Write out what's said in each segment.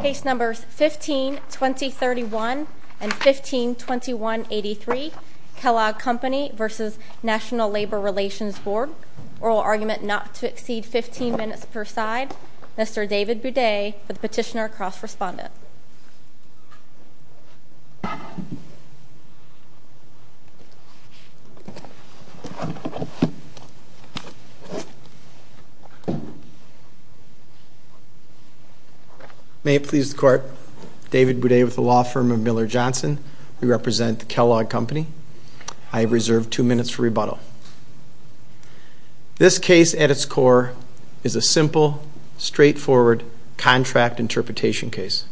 Case numbers 15-2031 and 15-2183, Kellogg Company v. National Labor Relations Board. Oral argument not to exceed 15 minutes per side. Mr. David Boudet for the petitioner cross-respondent. May it please the court, David Boudet with the law firm of Miller Johnson. We represent the Kellogg Company. I have reserved two minutes for rebuttal. This case at its core is a simple, straightforward contract interpretation case.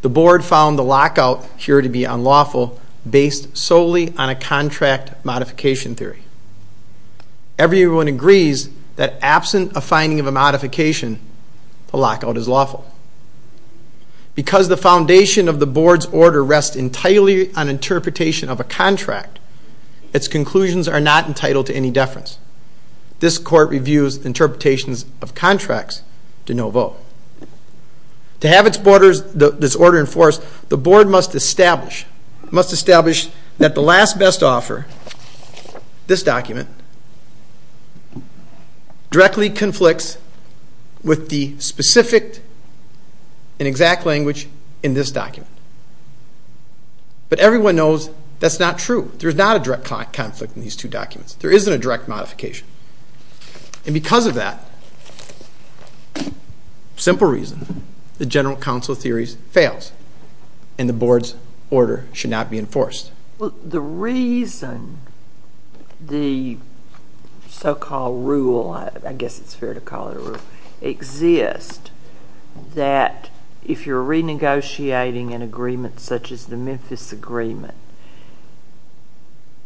The board found the lockout here to be unlawful based solely on a contract modification theory. Everyone agrees that absent a finding of a modification, the lockout is lawful. Because the foundation of the board's order rests entirely on interpretation of a contract, its conclusions are not entitled to any deference. This court reviews interpretations of contracts to no vote. To have this order enforced, the board must establish that the last best offer, this document, directly conflicts with the specific and exact language in this document. But everyone knows that's not true. There is not a direct conflict in these two documents. There isn't a direct modification. And because of that, simple reason, the general counsel theory fails and the board's order should not be enforced. Well, the reason the so-called rule, I guess it's fair to call it a rule, exists that if you're renegotiating an agreement such as the Memphis Agreement,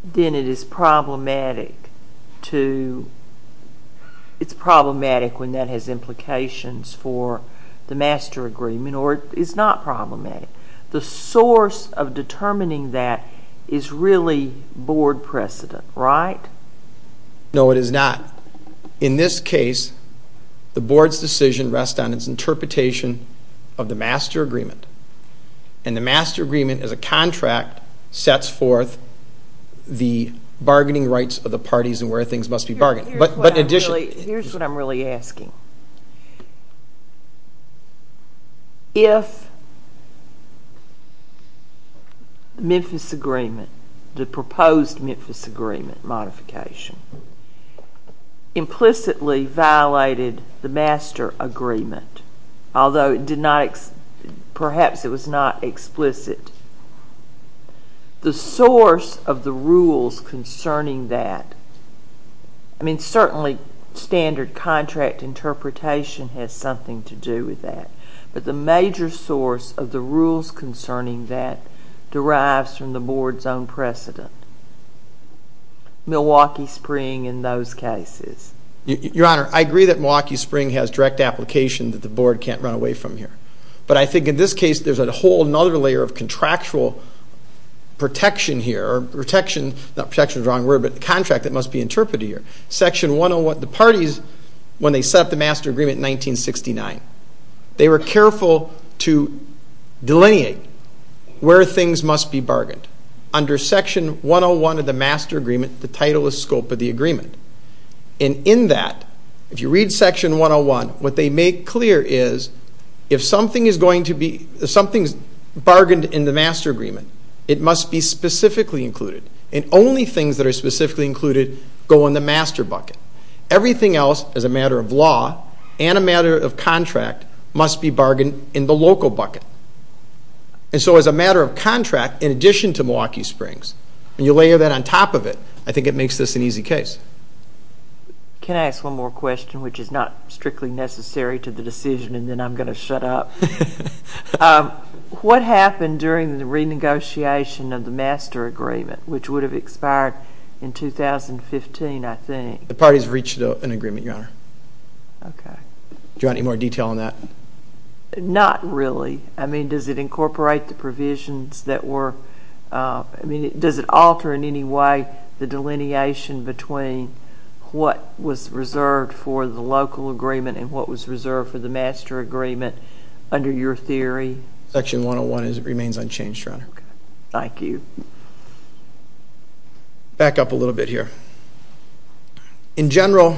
then it is problematic to, it's problematic when that has implications for the master agreement or it's not problematic. The source of determining that is really board precedent, right? No, it is not. In this case, the board's decision rests on its interpretation of the master agreement. And the master agreement as a contract sets forth the bargaining rights of the parties and where things must be bargained. Here's what I'm really asking. If Memphis Agreement, the proposed Memphis Agreement modification, implicitly violated the master agreement, although it did not, perhaps it was not explicit, the source of the rules concerning that, I mean, certainly standard contract interpretation has something to do with that. But the major source of the rules concerning that derives from the board's own precedent, Milwaukee Spring in those cases. Your Honor, I agree that Milwaukee Spring has direct application that the board can't run away from here. But I think in this case, there's a whole other layer of contractual protection here, not protection is the wrong word, but the contract that must be interpreted here. Section 101, the parties, when they set up the master agreement in 1969, they were careful to delineate where things must be bargained. Under Section 101 of the master agreement, the title is scope of the agreement. And in that, if you read Section 101, what they make clear is, if something is bargained in the master agreement, it must be specifically included. And only things that are specifically included go in the master bucket. Everything else, as a matter of law and a matter of contract, must be bargained in the local bucket. And so as a matter of contract, in addition to Milwaukee Springs, when you layer that on top of it, I think it makes this an easy case. Can I ask one more question, which is not strictly necessary to the decision, and then I'm going to shut up? What happened during the renegotiation of the master agreement, which would have expired in 2015, I think? The parties reached an agreement, Your Honor. Okay. Do you want any more detail on that? Not really. I mean, does it incorporate the provisions that were, I mean, does it alter in any way the delineation between what was reserved for the local agreement and what was reserved for the master agreement under your theory? Section 101 remains unchanged, Your Honor. Okay. Thank you. Back up a little bit here. In general,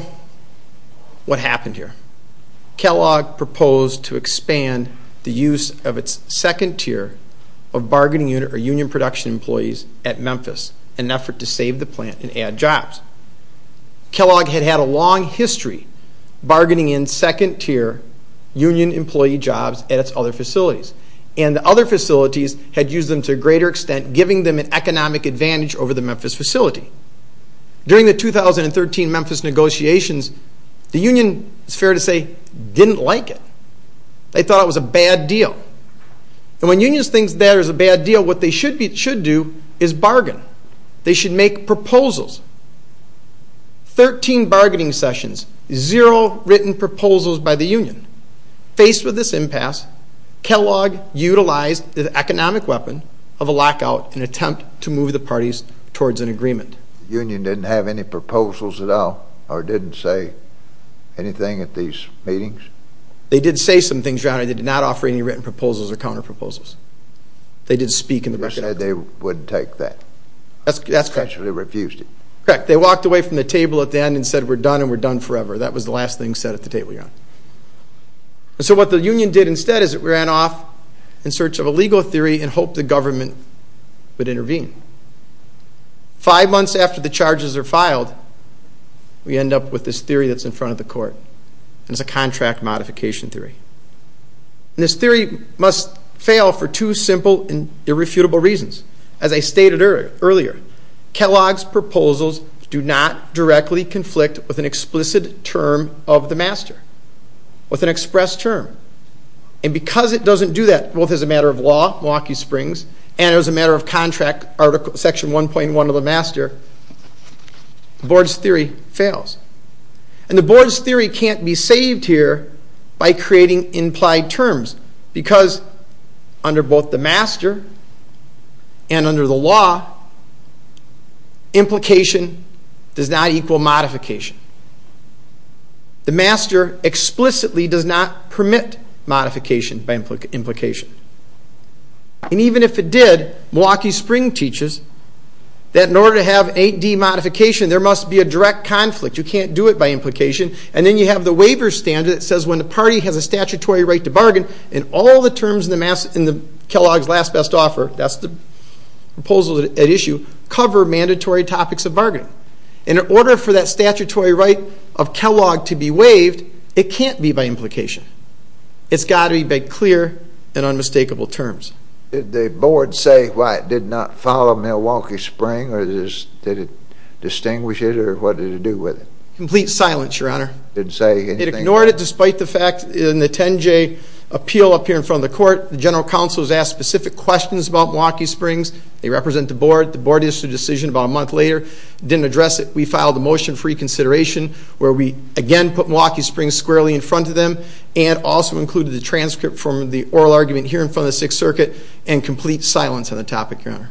what happened here? Kellogg proposed to expand the use of its second tier of bargaining unit or union production employees at Memphis in an effort to save the plant and add jobs. Kellogg had had a long history bargaining in second tier union employee jobs at its other facilities. And the other facilities had used them to a greater extent, giving them an economic advantage over the Memphis facility. During the 2013 Memphis negotiations, the union, it's fair to say, didn't like it. They thought it was a bad deal. And when unions think that it was a bad deal, what they should do is bargain. They should make proposals. Thirteen bargaining sessions, zero written proposals by the union. Faced with this impasse, Kellogg utilized the economic weapon of a lockout in an attempt to move the parties towards an agreement. The union didn't have any proposals at all or didn't say anything at these meetings? They did say some things, Your Honor. They did not offer any written proposals or counterproposals. They did speak in the record. They said they would take that. That's correct. They actually refused it. Correct. They walked away from the table at the end and said, we're done and we're done forever. That was the last thing said at the table, Your Honor. And so what the union did instead is it ran off in search of a legal theory and hoped the government would intervene. Five months after the charges are filed, we end up with this theory that's in front of the court. And it's a contract modification theory. And this theory must fail for two simple and irrefutable reasons. As I stated earlier, Kellogg's proposals do not directly conflict with an explicit term of the master, with an express term. And because it doesn't do that, both as a matter of law, Milwaukee Springs, and as a matter of contract, Section 1.1 of the master, the board's theory fails. And the board's theory can't be saved here by creating implied terms because under both the master and under the law, implication does not equal modification. The master explicitly does not permit modification by implication. And even if it did, Milwaukee Springs teaches that in order to have 8D modification, there must be a direct conflict. You can't do it by implication. And then you have the waiver standard that says when the party has a statutory right to bargain, and all the terms in Kellogg's last best offer, that's the proposal at issue, cover mandatory topics of bargaining. In order for that statutory right of Kellogg to be waived, it can't be by implication. It's got to be by clear and unmistakable terms. Did the board say why it did not follow Milwaukee Springs? Did it distinguish it, or what did it do with it? Complete silence, Your Honor. It ignored it despite the fact in the 10J appeal up here in front of the court, the general counsel has asked specific questions about Milwaukee Springs. They represent the board. The board issued a decision about a month later. Didn't address it. We filed a motion for reconsideration where we, again, put Milwaukee Springs squarely in front of them, and also included the transcript from the oral argument here in front of the Sixth Circuit, and complete silence on the topic, Your Honor.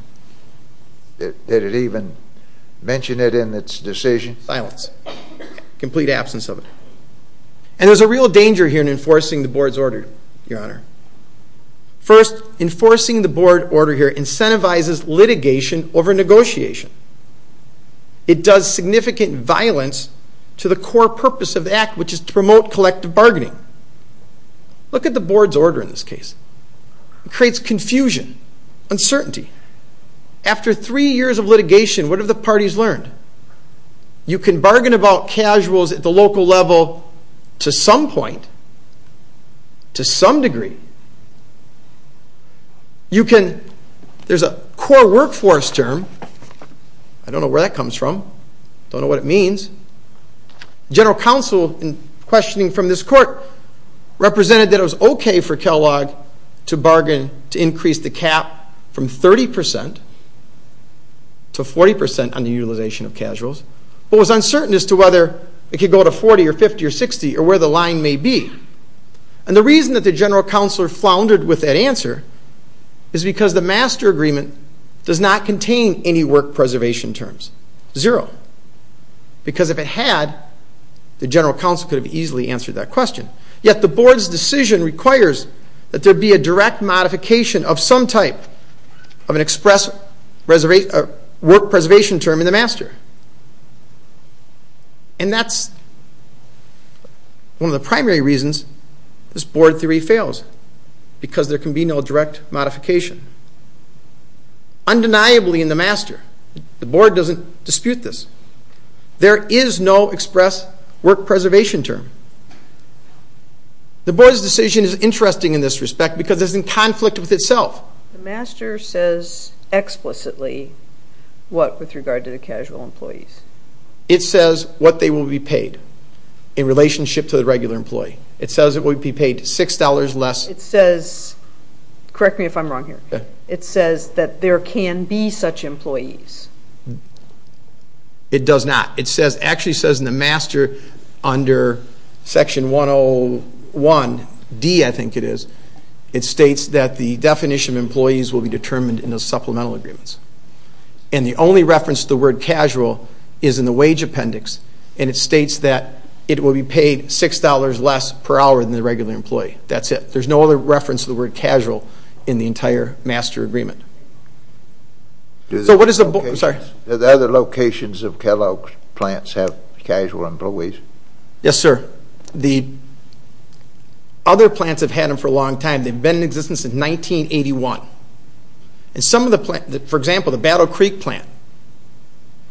Did it even mention it in its decision? Silence. Complete absence of it. And there's a real danger here in enforcing the board's order, Your Honor. First, enforcing the board order here incentivizes litigation over negotiation. It does significant violence to the core purpose of the act, which is to promote collective bargaining. Look at the board's order in this case. It creates confusion, uncertainty. After three years of litigation, what have the parties learned? You can bargain about casuals at the local level to some point, to some degree. There's a core workforce term. I don't know where that comes from. Don't know what it means. General counsel, in questioning from this court, represented that it was okay for Kellogg to bargain to increase the cap from 30% to 40% on the utilization of casuals, but was uncertain as to whether it could go to 40% or 50% or 60% or where the line may be. And the reason that the general counsel floundered with that answer is because the master agreement does not contain any work preservation terms. Zero. Because if it had, the general counsel could have easily answered that question. Yet the board's decision requires that there be a direct modification of some type of an express work preservation term in the master. And that's one of the primary reasons this board theory fails, because there can be no direct modification. Undeniably in the master, the board doesn't dispute this. There is no express work preservation term. The board's decision is interesting in this respect because it's in conflict with itself. The master says explicitly what with regard to the casual employees. It says what they will be paid in relationship to the regular employee. It says it will be paid $6 less. It says, correct me if I'm wrong here, it says that there can be such employees. It does not. It actually says in the master under Section 101D, I think it is, it states that the definition of employees will be determined in the supplemental agreements. And the only reference to the word casual is in the wage appendix, and it states that it will be paid $6 less per hour than the regular employee. That's it. There's no other reference to the word casual in the entire master agreement. So what does the board, I'm sorry. Do the other locations of Kellogg's plants have casual employees? Yes, sir. The other plants have had them for a long time. They've been in existence since 1981. For example, the Battle Creek plant,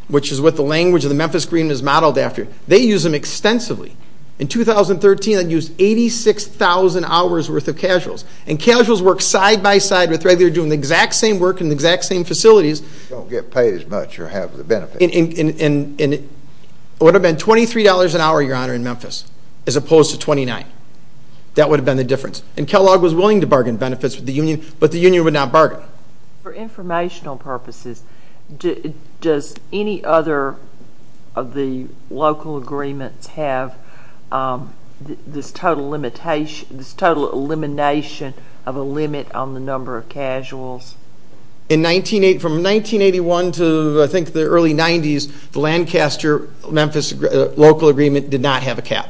which is what the language of the Memphis agreement is modeled after, they use them extensively. In 2013, they used 86,000 hours worth of casuals. And casuals work side by side with regular, doing the exact same work in the exact same facilities. Don't get paid as much or have the benefits. It would have been $23 an hour, Your Honor, in Memphis, as opposed to $29. That would have been the difference. And Kellogg was willing to bargain benefits with the union, but the union would not bargain. For informational purposes, does any other of the local agreements have this total elimination of a limit on the number of casuals? From 1981 to, I think, the early 90s, the Lancaster-Memphis local agreement did not have a cap.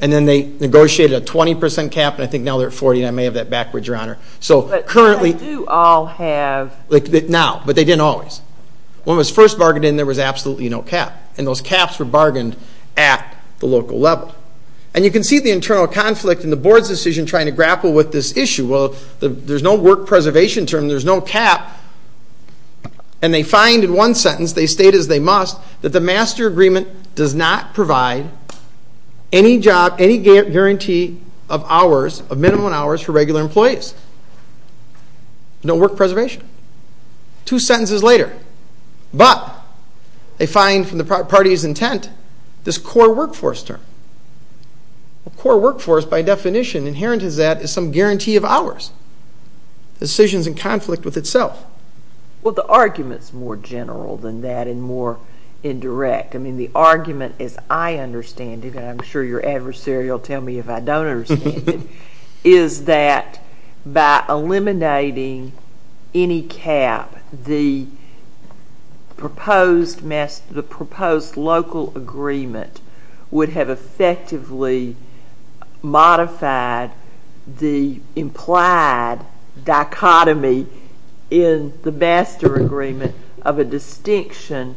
And then they negotiated a 20% cap, and I think now they're at 40, and I may have that backwards, Your Honor. But they do all have. Now, but they didn't always. When it was first bargained in, there was absolutely no cap. And those caps were bargained at the local level. And you can see the internal conflict in the board's decision trying to grapple with this issue. Well, there's no work preservation term. There's no cap. And they find in one sentence, they state as they must, that the master agreement does not provide any job, any guarantee of hours, of minimum hours for regular employees. No work preservation. Two sentences later. But they find from the party's intent this core workforce term. A core workforce, by definition, inherent in that is some guarantee of hours. Decisions in conflict with itself. Well, the argument's more general than that and more indirect. I mean, the argument, as I understand it, and I'm sure your adversary will tell me if I don't understand it, is that by eliminating any cap, the proposed local agreement would have effectively modified the implied dichotomy in the master agreement of a distinction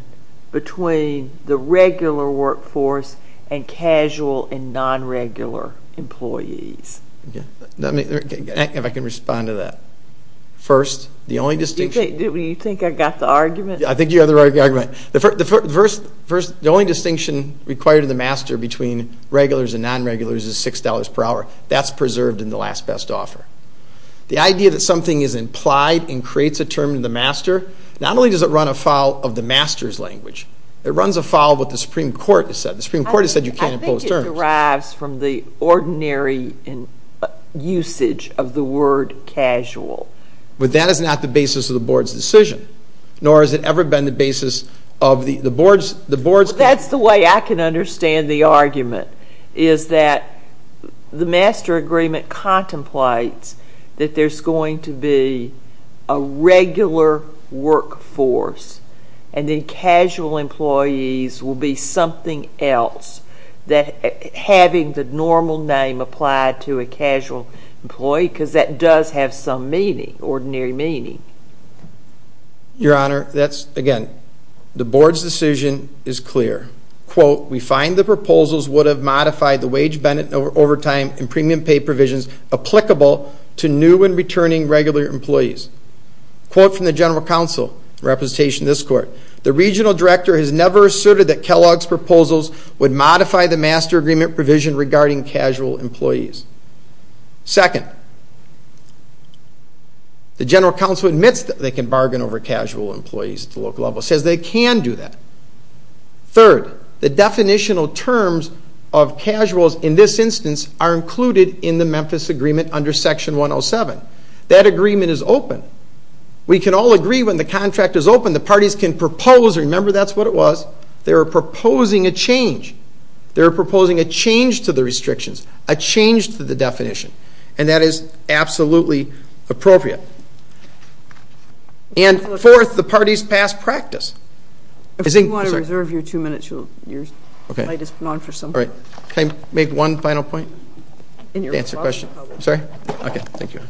between the regular workforce and casual and non-regular employees. If I can respond to that. First, the only distinction. Do you think I got the argument? I think you got the argument. The only distinction required in the master between regulars and non-regulars is $6 per hour. That's preserved in the last best offer. The idea that something is implied and creates a term in the master, not only does it run afoul of the master's language, it runs afoul of what the Supreme Court has said. The Supreme Court has said you can't impose terms. It derives from the ordinary usage of the word casual. But that is not the basis of the board's decision, nor has it ever been the basis of the board's... That's the way I can understand the argument, is that the master agreement contemplates that there's going to be a regular workforce and the casual employees will be something else, having the normal name applied to a casual employee, because that does have some meaning, ordinary meaning. Your Honor, that's, again, the board's decision is clear. Quote, We find the proposals would have modified the wage, benefit, overtime, and premium pay provisions applicable to new and returning regular employees. Quote from the General Counsel in representation of this Court, The Regional Director has never asserted that Kellogg's proposals would modify the master agreement provision regarding casual employees. Second, the General Counsel admits that they can bargain over casual employees at the local level, says they can do that. Third, the definitional terms of casuals in this instance are included in the Memphis Agreement under Section 107. That agreement is open. We can all agree when the contract is open, the parties can propose. Remember, that's what it was. They were proposing a change. They were proposing a change to the restrictions, a change to the definition, and that is absolutely appropriate. And fourth, the parties pass practice. If you want to reserve your two minutes, your slide is gone for some time. Can I make one final point? Answer the question. Sorry? Okay, thank you.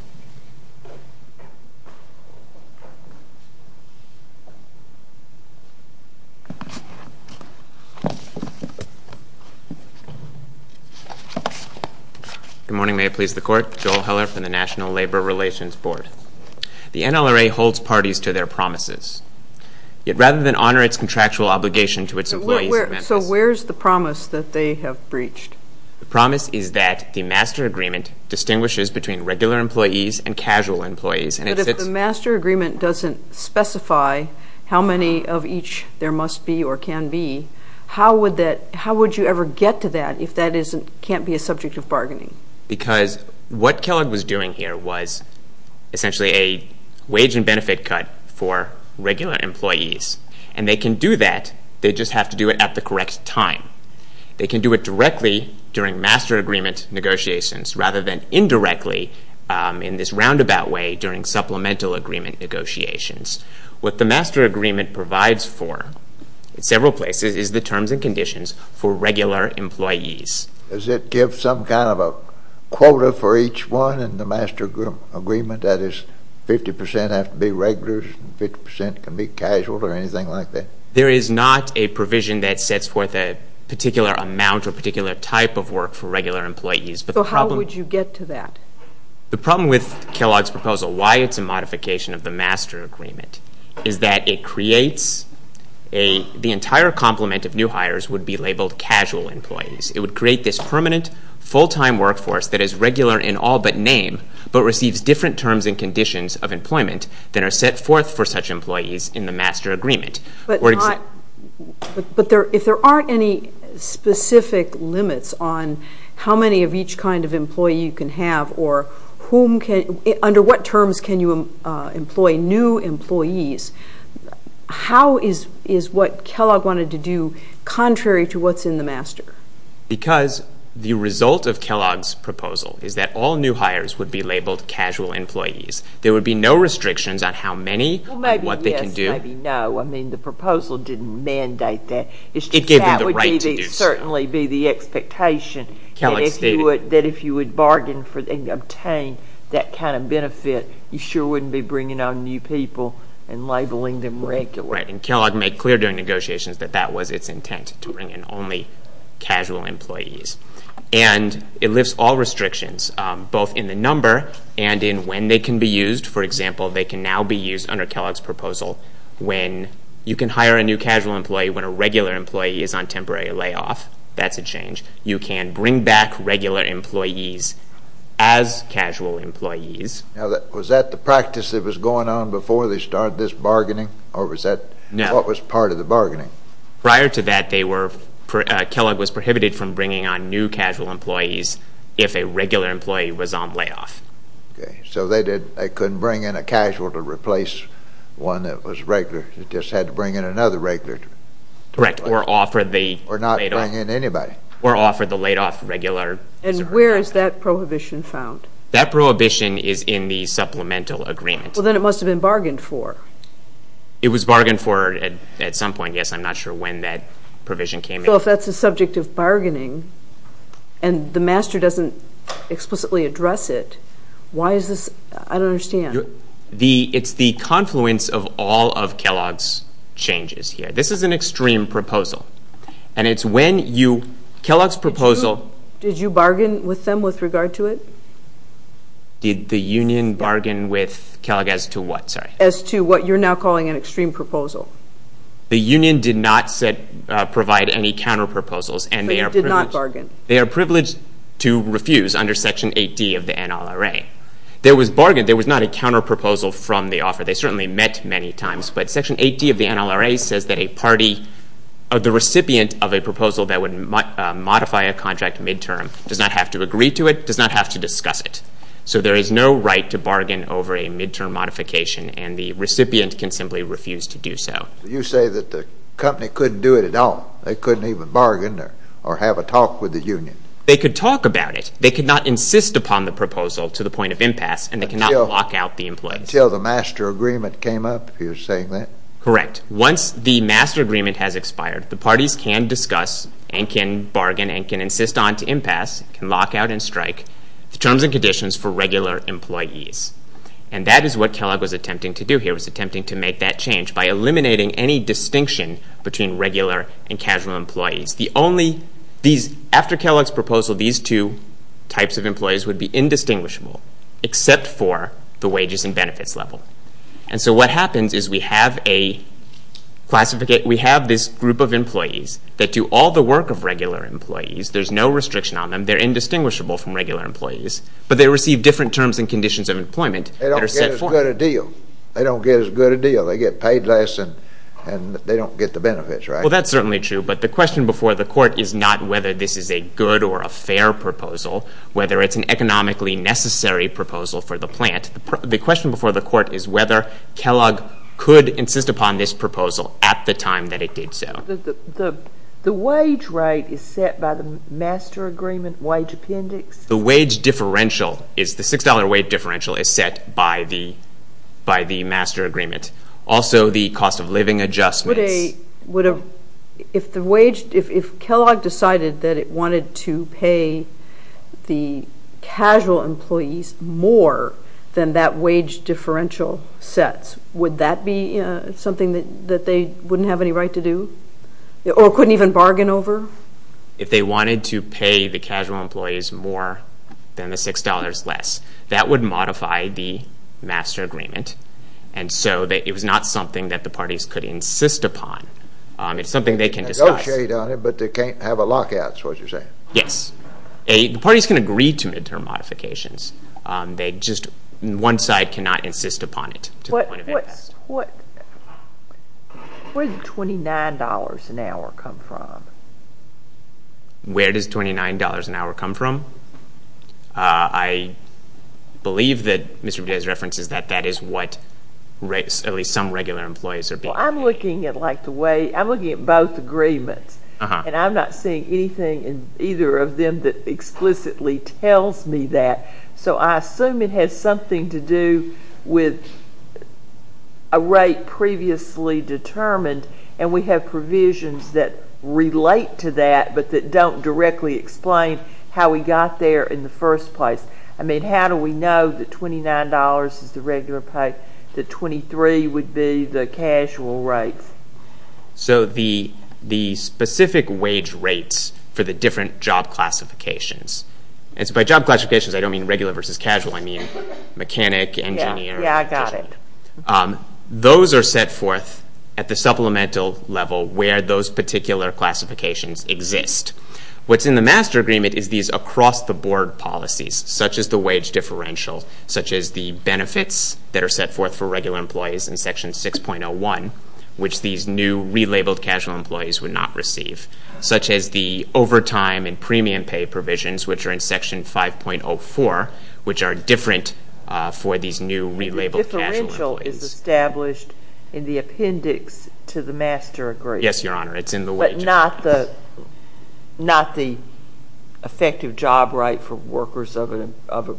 Good morning. May it please the Court. Joel Heller from the National Labor Relations Board. The NLRA holds parties to their promises. Yet rather than honor its contractual obligation to its employees in Memphis So where is the promise that they have breached? The promise is that the Master Agreement distinguishes between regular employees and casual employees. But if the Master Agreement doesn't specify how many of each there must be or can be, how would you ever get to that if that can't be a subject of bargaining? Because what Kellogg was doing here was essentially a wage and benefit cut for regular employees. And they can do that, they just have to do it at the correct time. They can do it directly during Master Agreement negotiations rather than indirectly in this roundabout way during supplemental agreement negotiations. What the Master Agreement provides for in several places is the terms and conditions for regular employees. Does it give some kind of a quota for each one in the Master Agreement? That is, 50% have to be regulars and 50% can be casual or anything like that? There is not a provision that sets forth a particular amount or particular type of work for regular employees. So how would you get to that? The problem with Kellogg's proposal, why it's a modification of the Master Agreement, is that it creates the entire complement of new hires would be labeled casual employees. It would create this permanent, full-time workforce that is regular in all but name, but receives different terms and conditions of employment than are set forth for such employees in the Master Agreement. But if there aren't any specific limits on how many of each kind of employee you can have or under what terms can you employ new employees, how is what Kellogg wanted to do contrary to what's in the Master? Because the result of Kellogg's proposal is that all new hires would be labeled casual employees. There would be no restrictions on how many and what they can do. Maybe no. I mean the proposal didn't mandate that. It gave them the right to do so. That would certainly be the expectation. Kellogg stated. That if you would bargain and obtain that kind of benefit, you sure wouldn't be bringing on new people and labeling them regular. Right, and Kellogg made clear during negotiations that that was its intent, to bring in only casual employees. They can now be used under Kellogg's proposal when you can hire a new casual employee when a regular employee is on temporary layoff. That's a change. You can bring back regular employees as casual employees. Now, was that the practice that was going on before they started this bargaining, or what was part of the bargaining? Prior to that, Kellogg was prohibited from bringing on new casual employees if a regular employee was on layoff. Okay, so they couldn't bring in a casual to replace one that was regular. They just had to bring in another regular. Correct, or offer the layoff. Or not bring in anybody. Or offer the layoff regular. And where is that prohibition found? That prohibition is in the supplemental agreement. Well, then it must have been bargained for. It was bargained for at some point. Yes, I'm not sure when that provision came in. I don't know if that's the subject of bargaining, and the master doesn't explicitly address it. Why is this? I don't understand. It's the confluence of all of Kellogg's changes here. This is an extreme proposal. And it's when you, Kellogg's proposal. Did you bargain with them with regard to it? Did the union bargain with Kellogg as to what? As to what you're now calling an extreme proposal. The union did not provide any counterproposals. So you did not bargain. They are privileged to refuse under Section 8D of the NLRA. There was bargain. There was not a counterproposal from the offer. They certainly met many times. But Section 8D of the NLRA says that a party, the recipient of a proposal that would modify a contract midterm does not have to agree to it, does not have to discuss it. So there is no right to bargain over a midterm modification, and the recipient can simply refuse to do so. You say that the company couldn't do it at all. They couldn't even bargain or have a talk with the union. They could talk about it. They could not insist upon the proposal to the point of impasse, and they cannot lock out the employees. Until the master agreement came up, if you're saying that. Correct. Once the master agreement has expired, the parties can discuss and can bargain and can insist on to impasse, can lock out and strike the terms and conditions for regular employees. And that is what Kellogg was attempting to do here. He was attempting to make that change by eliminating any distinction between regular and casual employees. After Kellogg's proposal, these two types of employees would be indistinguishable except for the wages and benefits level. And so what happens is we have this group of employees that do all the work of regular employees. There's no restriction on them. They're indistinguishable from regular employees, but they receive different terms and conditions of employment. They don't get as good a deal. They don't get as good a deal. They get paid less and they don't get the benefits, right? Well, that's certainly true, but the question before the court is not whether this is a good or a fair proposal, whether it's an economically necessary proposal for the plant. The question before the court is whether Kellogg could insist upon this proposal at the time that it did so. The wage rate is set by the master agreement wage appendix. The wage differential is the $6 wage differential is set by the master agreement. Also, the cost of living adjustments. If Kellogg decided that it wanted to pay the casual employees more than that wage differential sets, would that be something that they wouldn't have any right to do or couldn't even bargain over? If they wanted to pay the casual employees more than the $6 less, that would modify the master agreement, and so it was not something that the parties could insist upon. It's something they can discuss. They can negotiate on it, but they can't have a lockout is what you're saying. Yes. The parties can agree to midterm modifications. They just, one side cannot insist upon it to the point of impact. Where does $29 an hour come from? Where does $29 an hour come from? I believe that Mr. Budett's reference is that that is what at least some regular employees are paying. Well, I'm looking at both agreements, and I'm not seeing anything in either of them that explicitly tells me that, so I assume it has something to do with a rate previously determined, and we have provisions that relate to that but that don't directly explain how we got there in the first place. I mean, how do we know that $29 is the regular pay, that 23 would be the casual rate? So the specific wage rates for the different job classifications, and by job classifications I don't mean regular versus casual, I mean mechanic, engineer. Yeah, I got it. Those are set forth at the supplemental level where those particular classifications exist. What's in the master agreement is these across-the-board policies, such as the wage differential, such as the benefits that are set forth for regular employees in Section 6.01, which these new relabeled casual employees would not receive, such as the overtime and premium pay provisions, which are in Section 5.04, which are different for these new relabeled casual employees. But the differential is established in the appendix to the master agreement. Yes, Your Honor, it's in the wage agreement. But not the effective job right for workers of a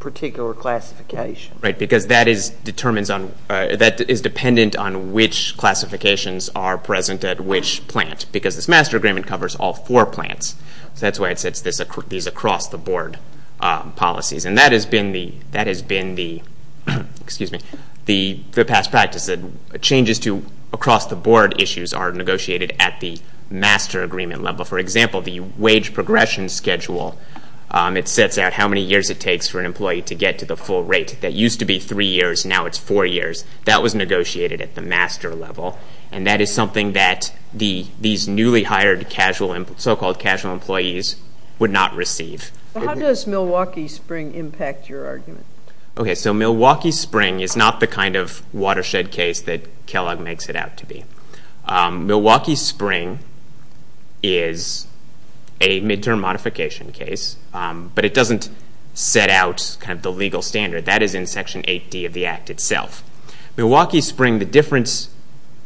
particular classification. Right, because that is dependent on which classifications are present at which plant, because this master agreement covers all four plants. So that's why it sets these across-the-board policies. And that has been the past practice. Changes to across-the-board issues are negotiated at the master agreement level. For example, the wage progression schedule, it sets out how many years it takes for an employee to get to the full rate. That used to be three years, now it's four years. That was negotiated at the master level. And that is something that these newly hired so-called casual employees would not receive. How does Milwaukee Spring impact your argument? Okay, so Milwaukee Spring is not the kind of watershed case that Kellogg makes it out to be. Milwaukee Spring is a midterm modification case, but it doesn't set out the legal standard. That is in Section 8D of the Act itself. Milwaukee Spring, the difference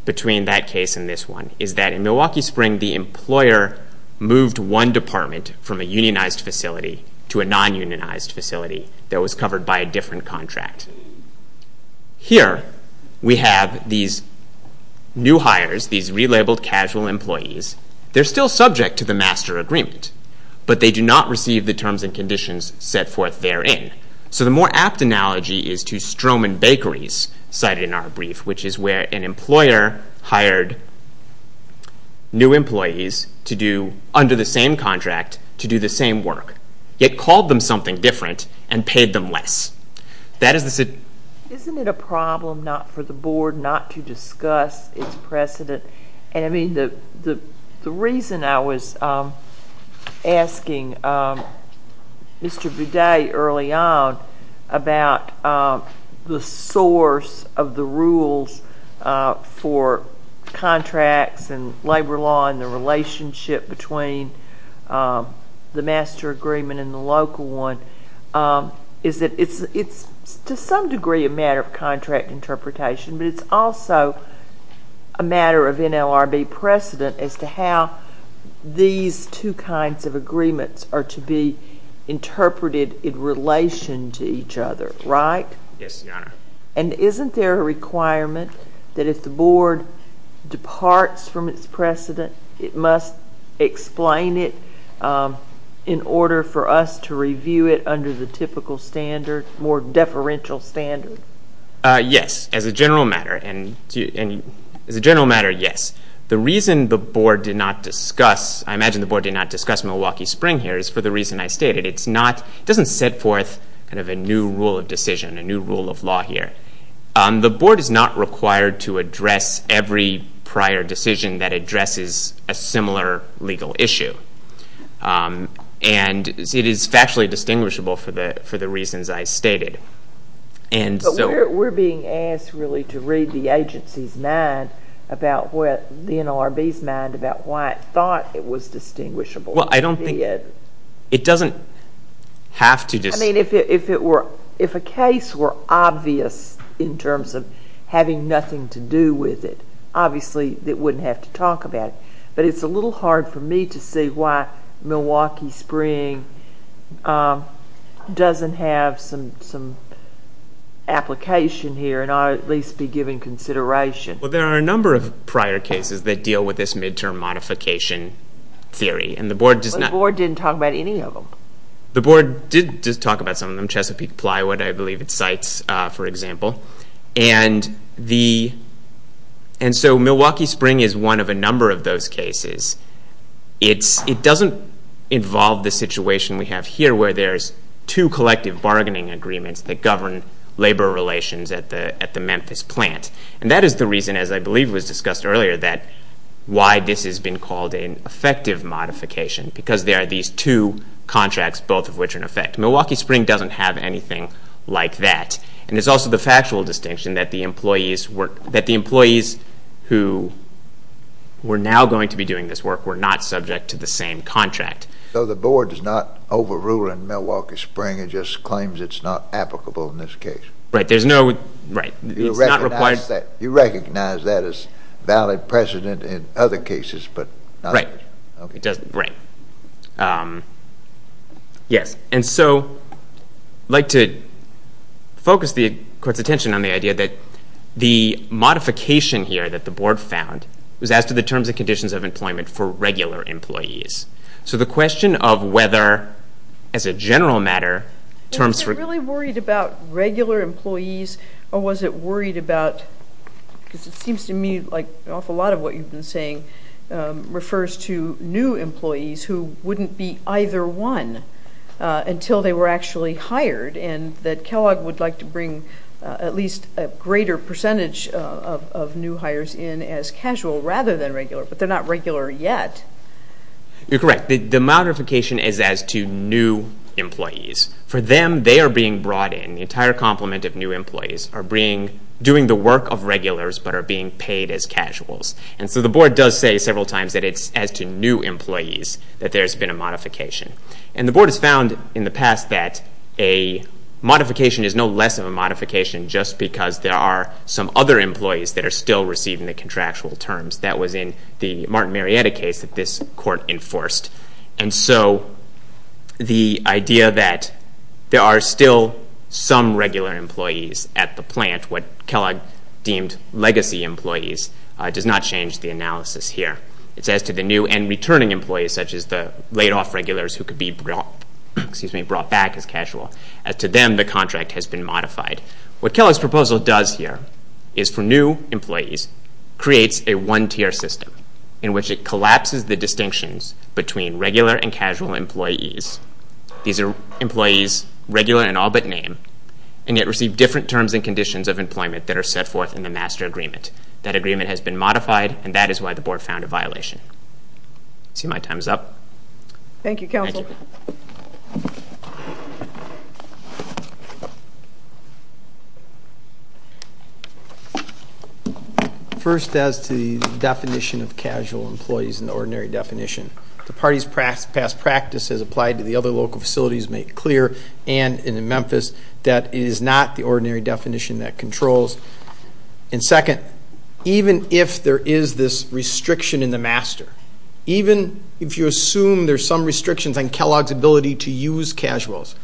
between that case and this one, is that in Milwaukee Spring the employer moved one department from a unionized facility to a non-unionized facility that was covered by a different contract. Here we have these new hires, these relabeled casual employees. They're still subject to the master agreement, but they do not receive the terms and conditions set forth therein. So the more apt analogy is to Stroman Bakeries cited in our brief, which is where an employer hired new employees under the same contract to do the same work, yet called them something different and paid them less. Isn't it a problem not for the board not to discuss its precedent? The reason I was asking Mr. Bidet early on about the source of the rules for contracts and labor law and the relationship between the master agreement and the local one is that it's to some degree a matter of contract interpretation, but it's also a matter of NLRB precedent as to how these two kinds of agreements are to be interpreted in relation to each other, right? Yes, Your Honor. And isn't there a requirement that if the board departs from its precedent, it must explain it in order for us to review it under the typical standard, more deferential standard? Yes, as a general matter, and as a general matter, yes. The reason the board did not discuss, I imagine the board did not discuss Milwaukee Spring here, is for the reason I stated. It doesn't set forth kind of a new rule of decision, a new rule of law here. The board is not required to address every prior decision that addresses a similar legal issue, and it is factually distinguishable for the reasons I stated. But we're being asked really to read the agency's mind, the NLRB's mind, about why it thought it was distinguishable. Well, I don't think it doesn't have to distinguish. I mean, if a case were obvious in terms of having nothing to do with it, obviously it wouldn't have to talk about it. But it's a little hard for me to see why Milwaukee Spring doesn't have some application here, and ought to at least be given consideration. Well, there are a number of prior cases that deal with this midterm modification theory, and the board does not... The board didn't talk about any of them. The board did talk about some of them, Chesapeake Plywood, I believe it cites, for example. And so Milwaukee Spring is one of a number of those cases. It doesn't involve the situation we have here, where there's two collective bargaining agreements that govern labor relations at the Memphis plant. And that is the reason, as I believe was discussed earlier, why this has been called an effective modification, because there are these two contracts, both of which are in effect. Milwaukee Spring doesn't have anything like that. And it's also the factual distinction that the employees who were now going to be doing this work were not subject to the same contract. So the board is not overruling Milwaukee Spring, it just claims it's not applicable in this case. Right, there's no... Right. It's not required... You recognize that as valid precedent in other cases, but not... Right. Okay. Right. Yes. And so I'd like to focus the court's attention on the idea that the modification here that the board found was as to the terms and conditions of employment for regular employees. So the question of whether, as a general matter, terms for... Was it really worried about regular employees, or was it worried about... Because it seems to me like an awful lot of what you've been saying refers to new employees who wouldn't be either one until they were actually hired, and that Kellogg would like to bring at least a greater percentage of new hires in as casual rather than regular, but they're not regular yet. You're correct. The modification is as to new employees. For them, they are being brought in. The entire complement of new employees are doing the work of regulars but are being paid as casuals. And so the board does say several times that it's as to new employees that there's been a modification. And the board has found in the past that a modification is no less of a modification just because there are some other employees that are still receiving the contractual terms. That was in the Martin Marietta case that this court enforced. And so the idea that there are still some regular employees at the plant, what Kellogg deemed legacy employees, does not change the analysis here. It's as to the new and returning employees, such as the laid-off regulars who could be brought back as casual. As to them, the contract has been modified. What Kellogg's proposal does here is for new employees, creates a one-tier system in which it collapses the distinctions between regular and casual employees. These are employees regular in all but name, and yet receive different terms and conditions of employment that are set forth in the master agreement. That agreement has been modified, and that is why the board found a violation. I see my time is up. Thank you, Counsel. Thank you. First, as to the definition of casual employees in the ordinary definition, the party's past practice has applied to the other local facilities, make clear, and in Memphis that it is not the ordinary definition that controls. And second, even if there is this restriction in the master, even if you assume there are some restrictions on Kellogg's ability to use casuals,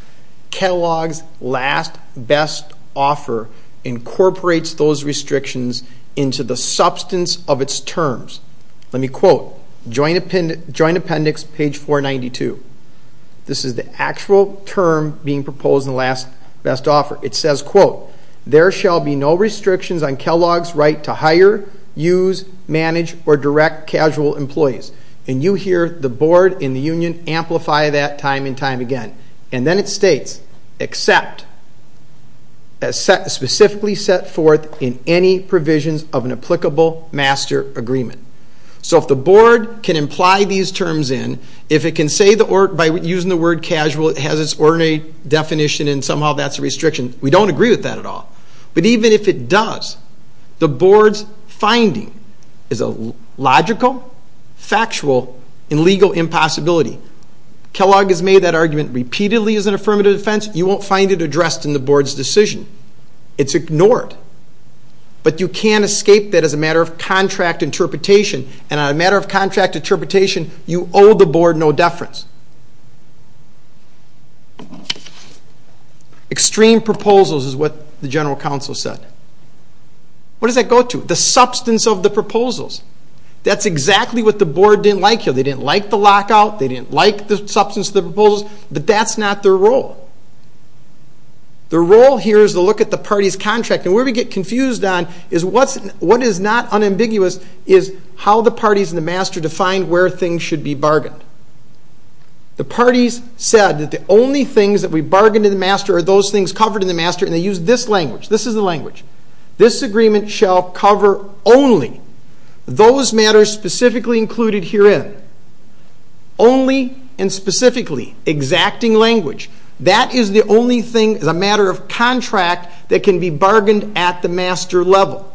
Kellogg's last best offer incorporates those restrictions into the substance of its terms. Let me quote Joint Appendix, page 492. This is the actual term being proposed in the last best offer. It says, quote, There shall be no restrictions on Kellogg's right to hire, use, manage, or direct casual employees. And you hear the board in the union amplify that time and time again. And then it states, except as specifically set forth in any provisions of an applicable master agreement. So if the board can imply these terms in, if it can say by using the word casual it has its ordinary definition and somehow that's a restriction, we don't agree with that at all. But even if it does, the board's finding is a logical, factual, and legal impossibility. Kellogg has made that argument repeatedly as an affirmative defense. You won't find it addressed in the board's decision. It's ignored. But you can't escape that as a matter of contract interpretation. And on a matter of contract interpretation, you owe the board no deference. Extreme proposals is what the general counsel said. What does that go to? The substance of the proposals. That's exactly what the board didn't like here. They didn't like the lockout. They didn't like the substance of the proposals. But that's not their role. Their role here is to look at the party's contract. And where we get confused on is what is not unambiguous is how the parties in the master defined where things should be bargained. The parties said that the only things that we bargained in the master are those things covered in the master, and they used this language. This is the language. This agreement shall cover only those matters specifically included herein. Only and specifically exacting language. That is the only thing as a matter of contract that can be bargained at the master level.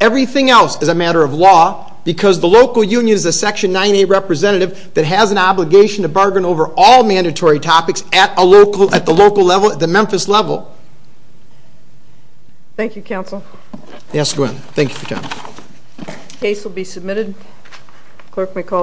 Everything else is a matter of law because the local union is a Section 9A representative that has an obligation to bargain over all mandatory topics at the local level, at the Memphis level. Thank you, counsel. Yes, go ahead. Thank you for your time. Case will be submitted. Clerk may call the roll.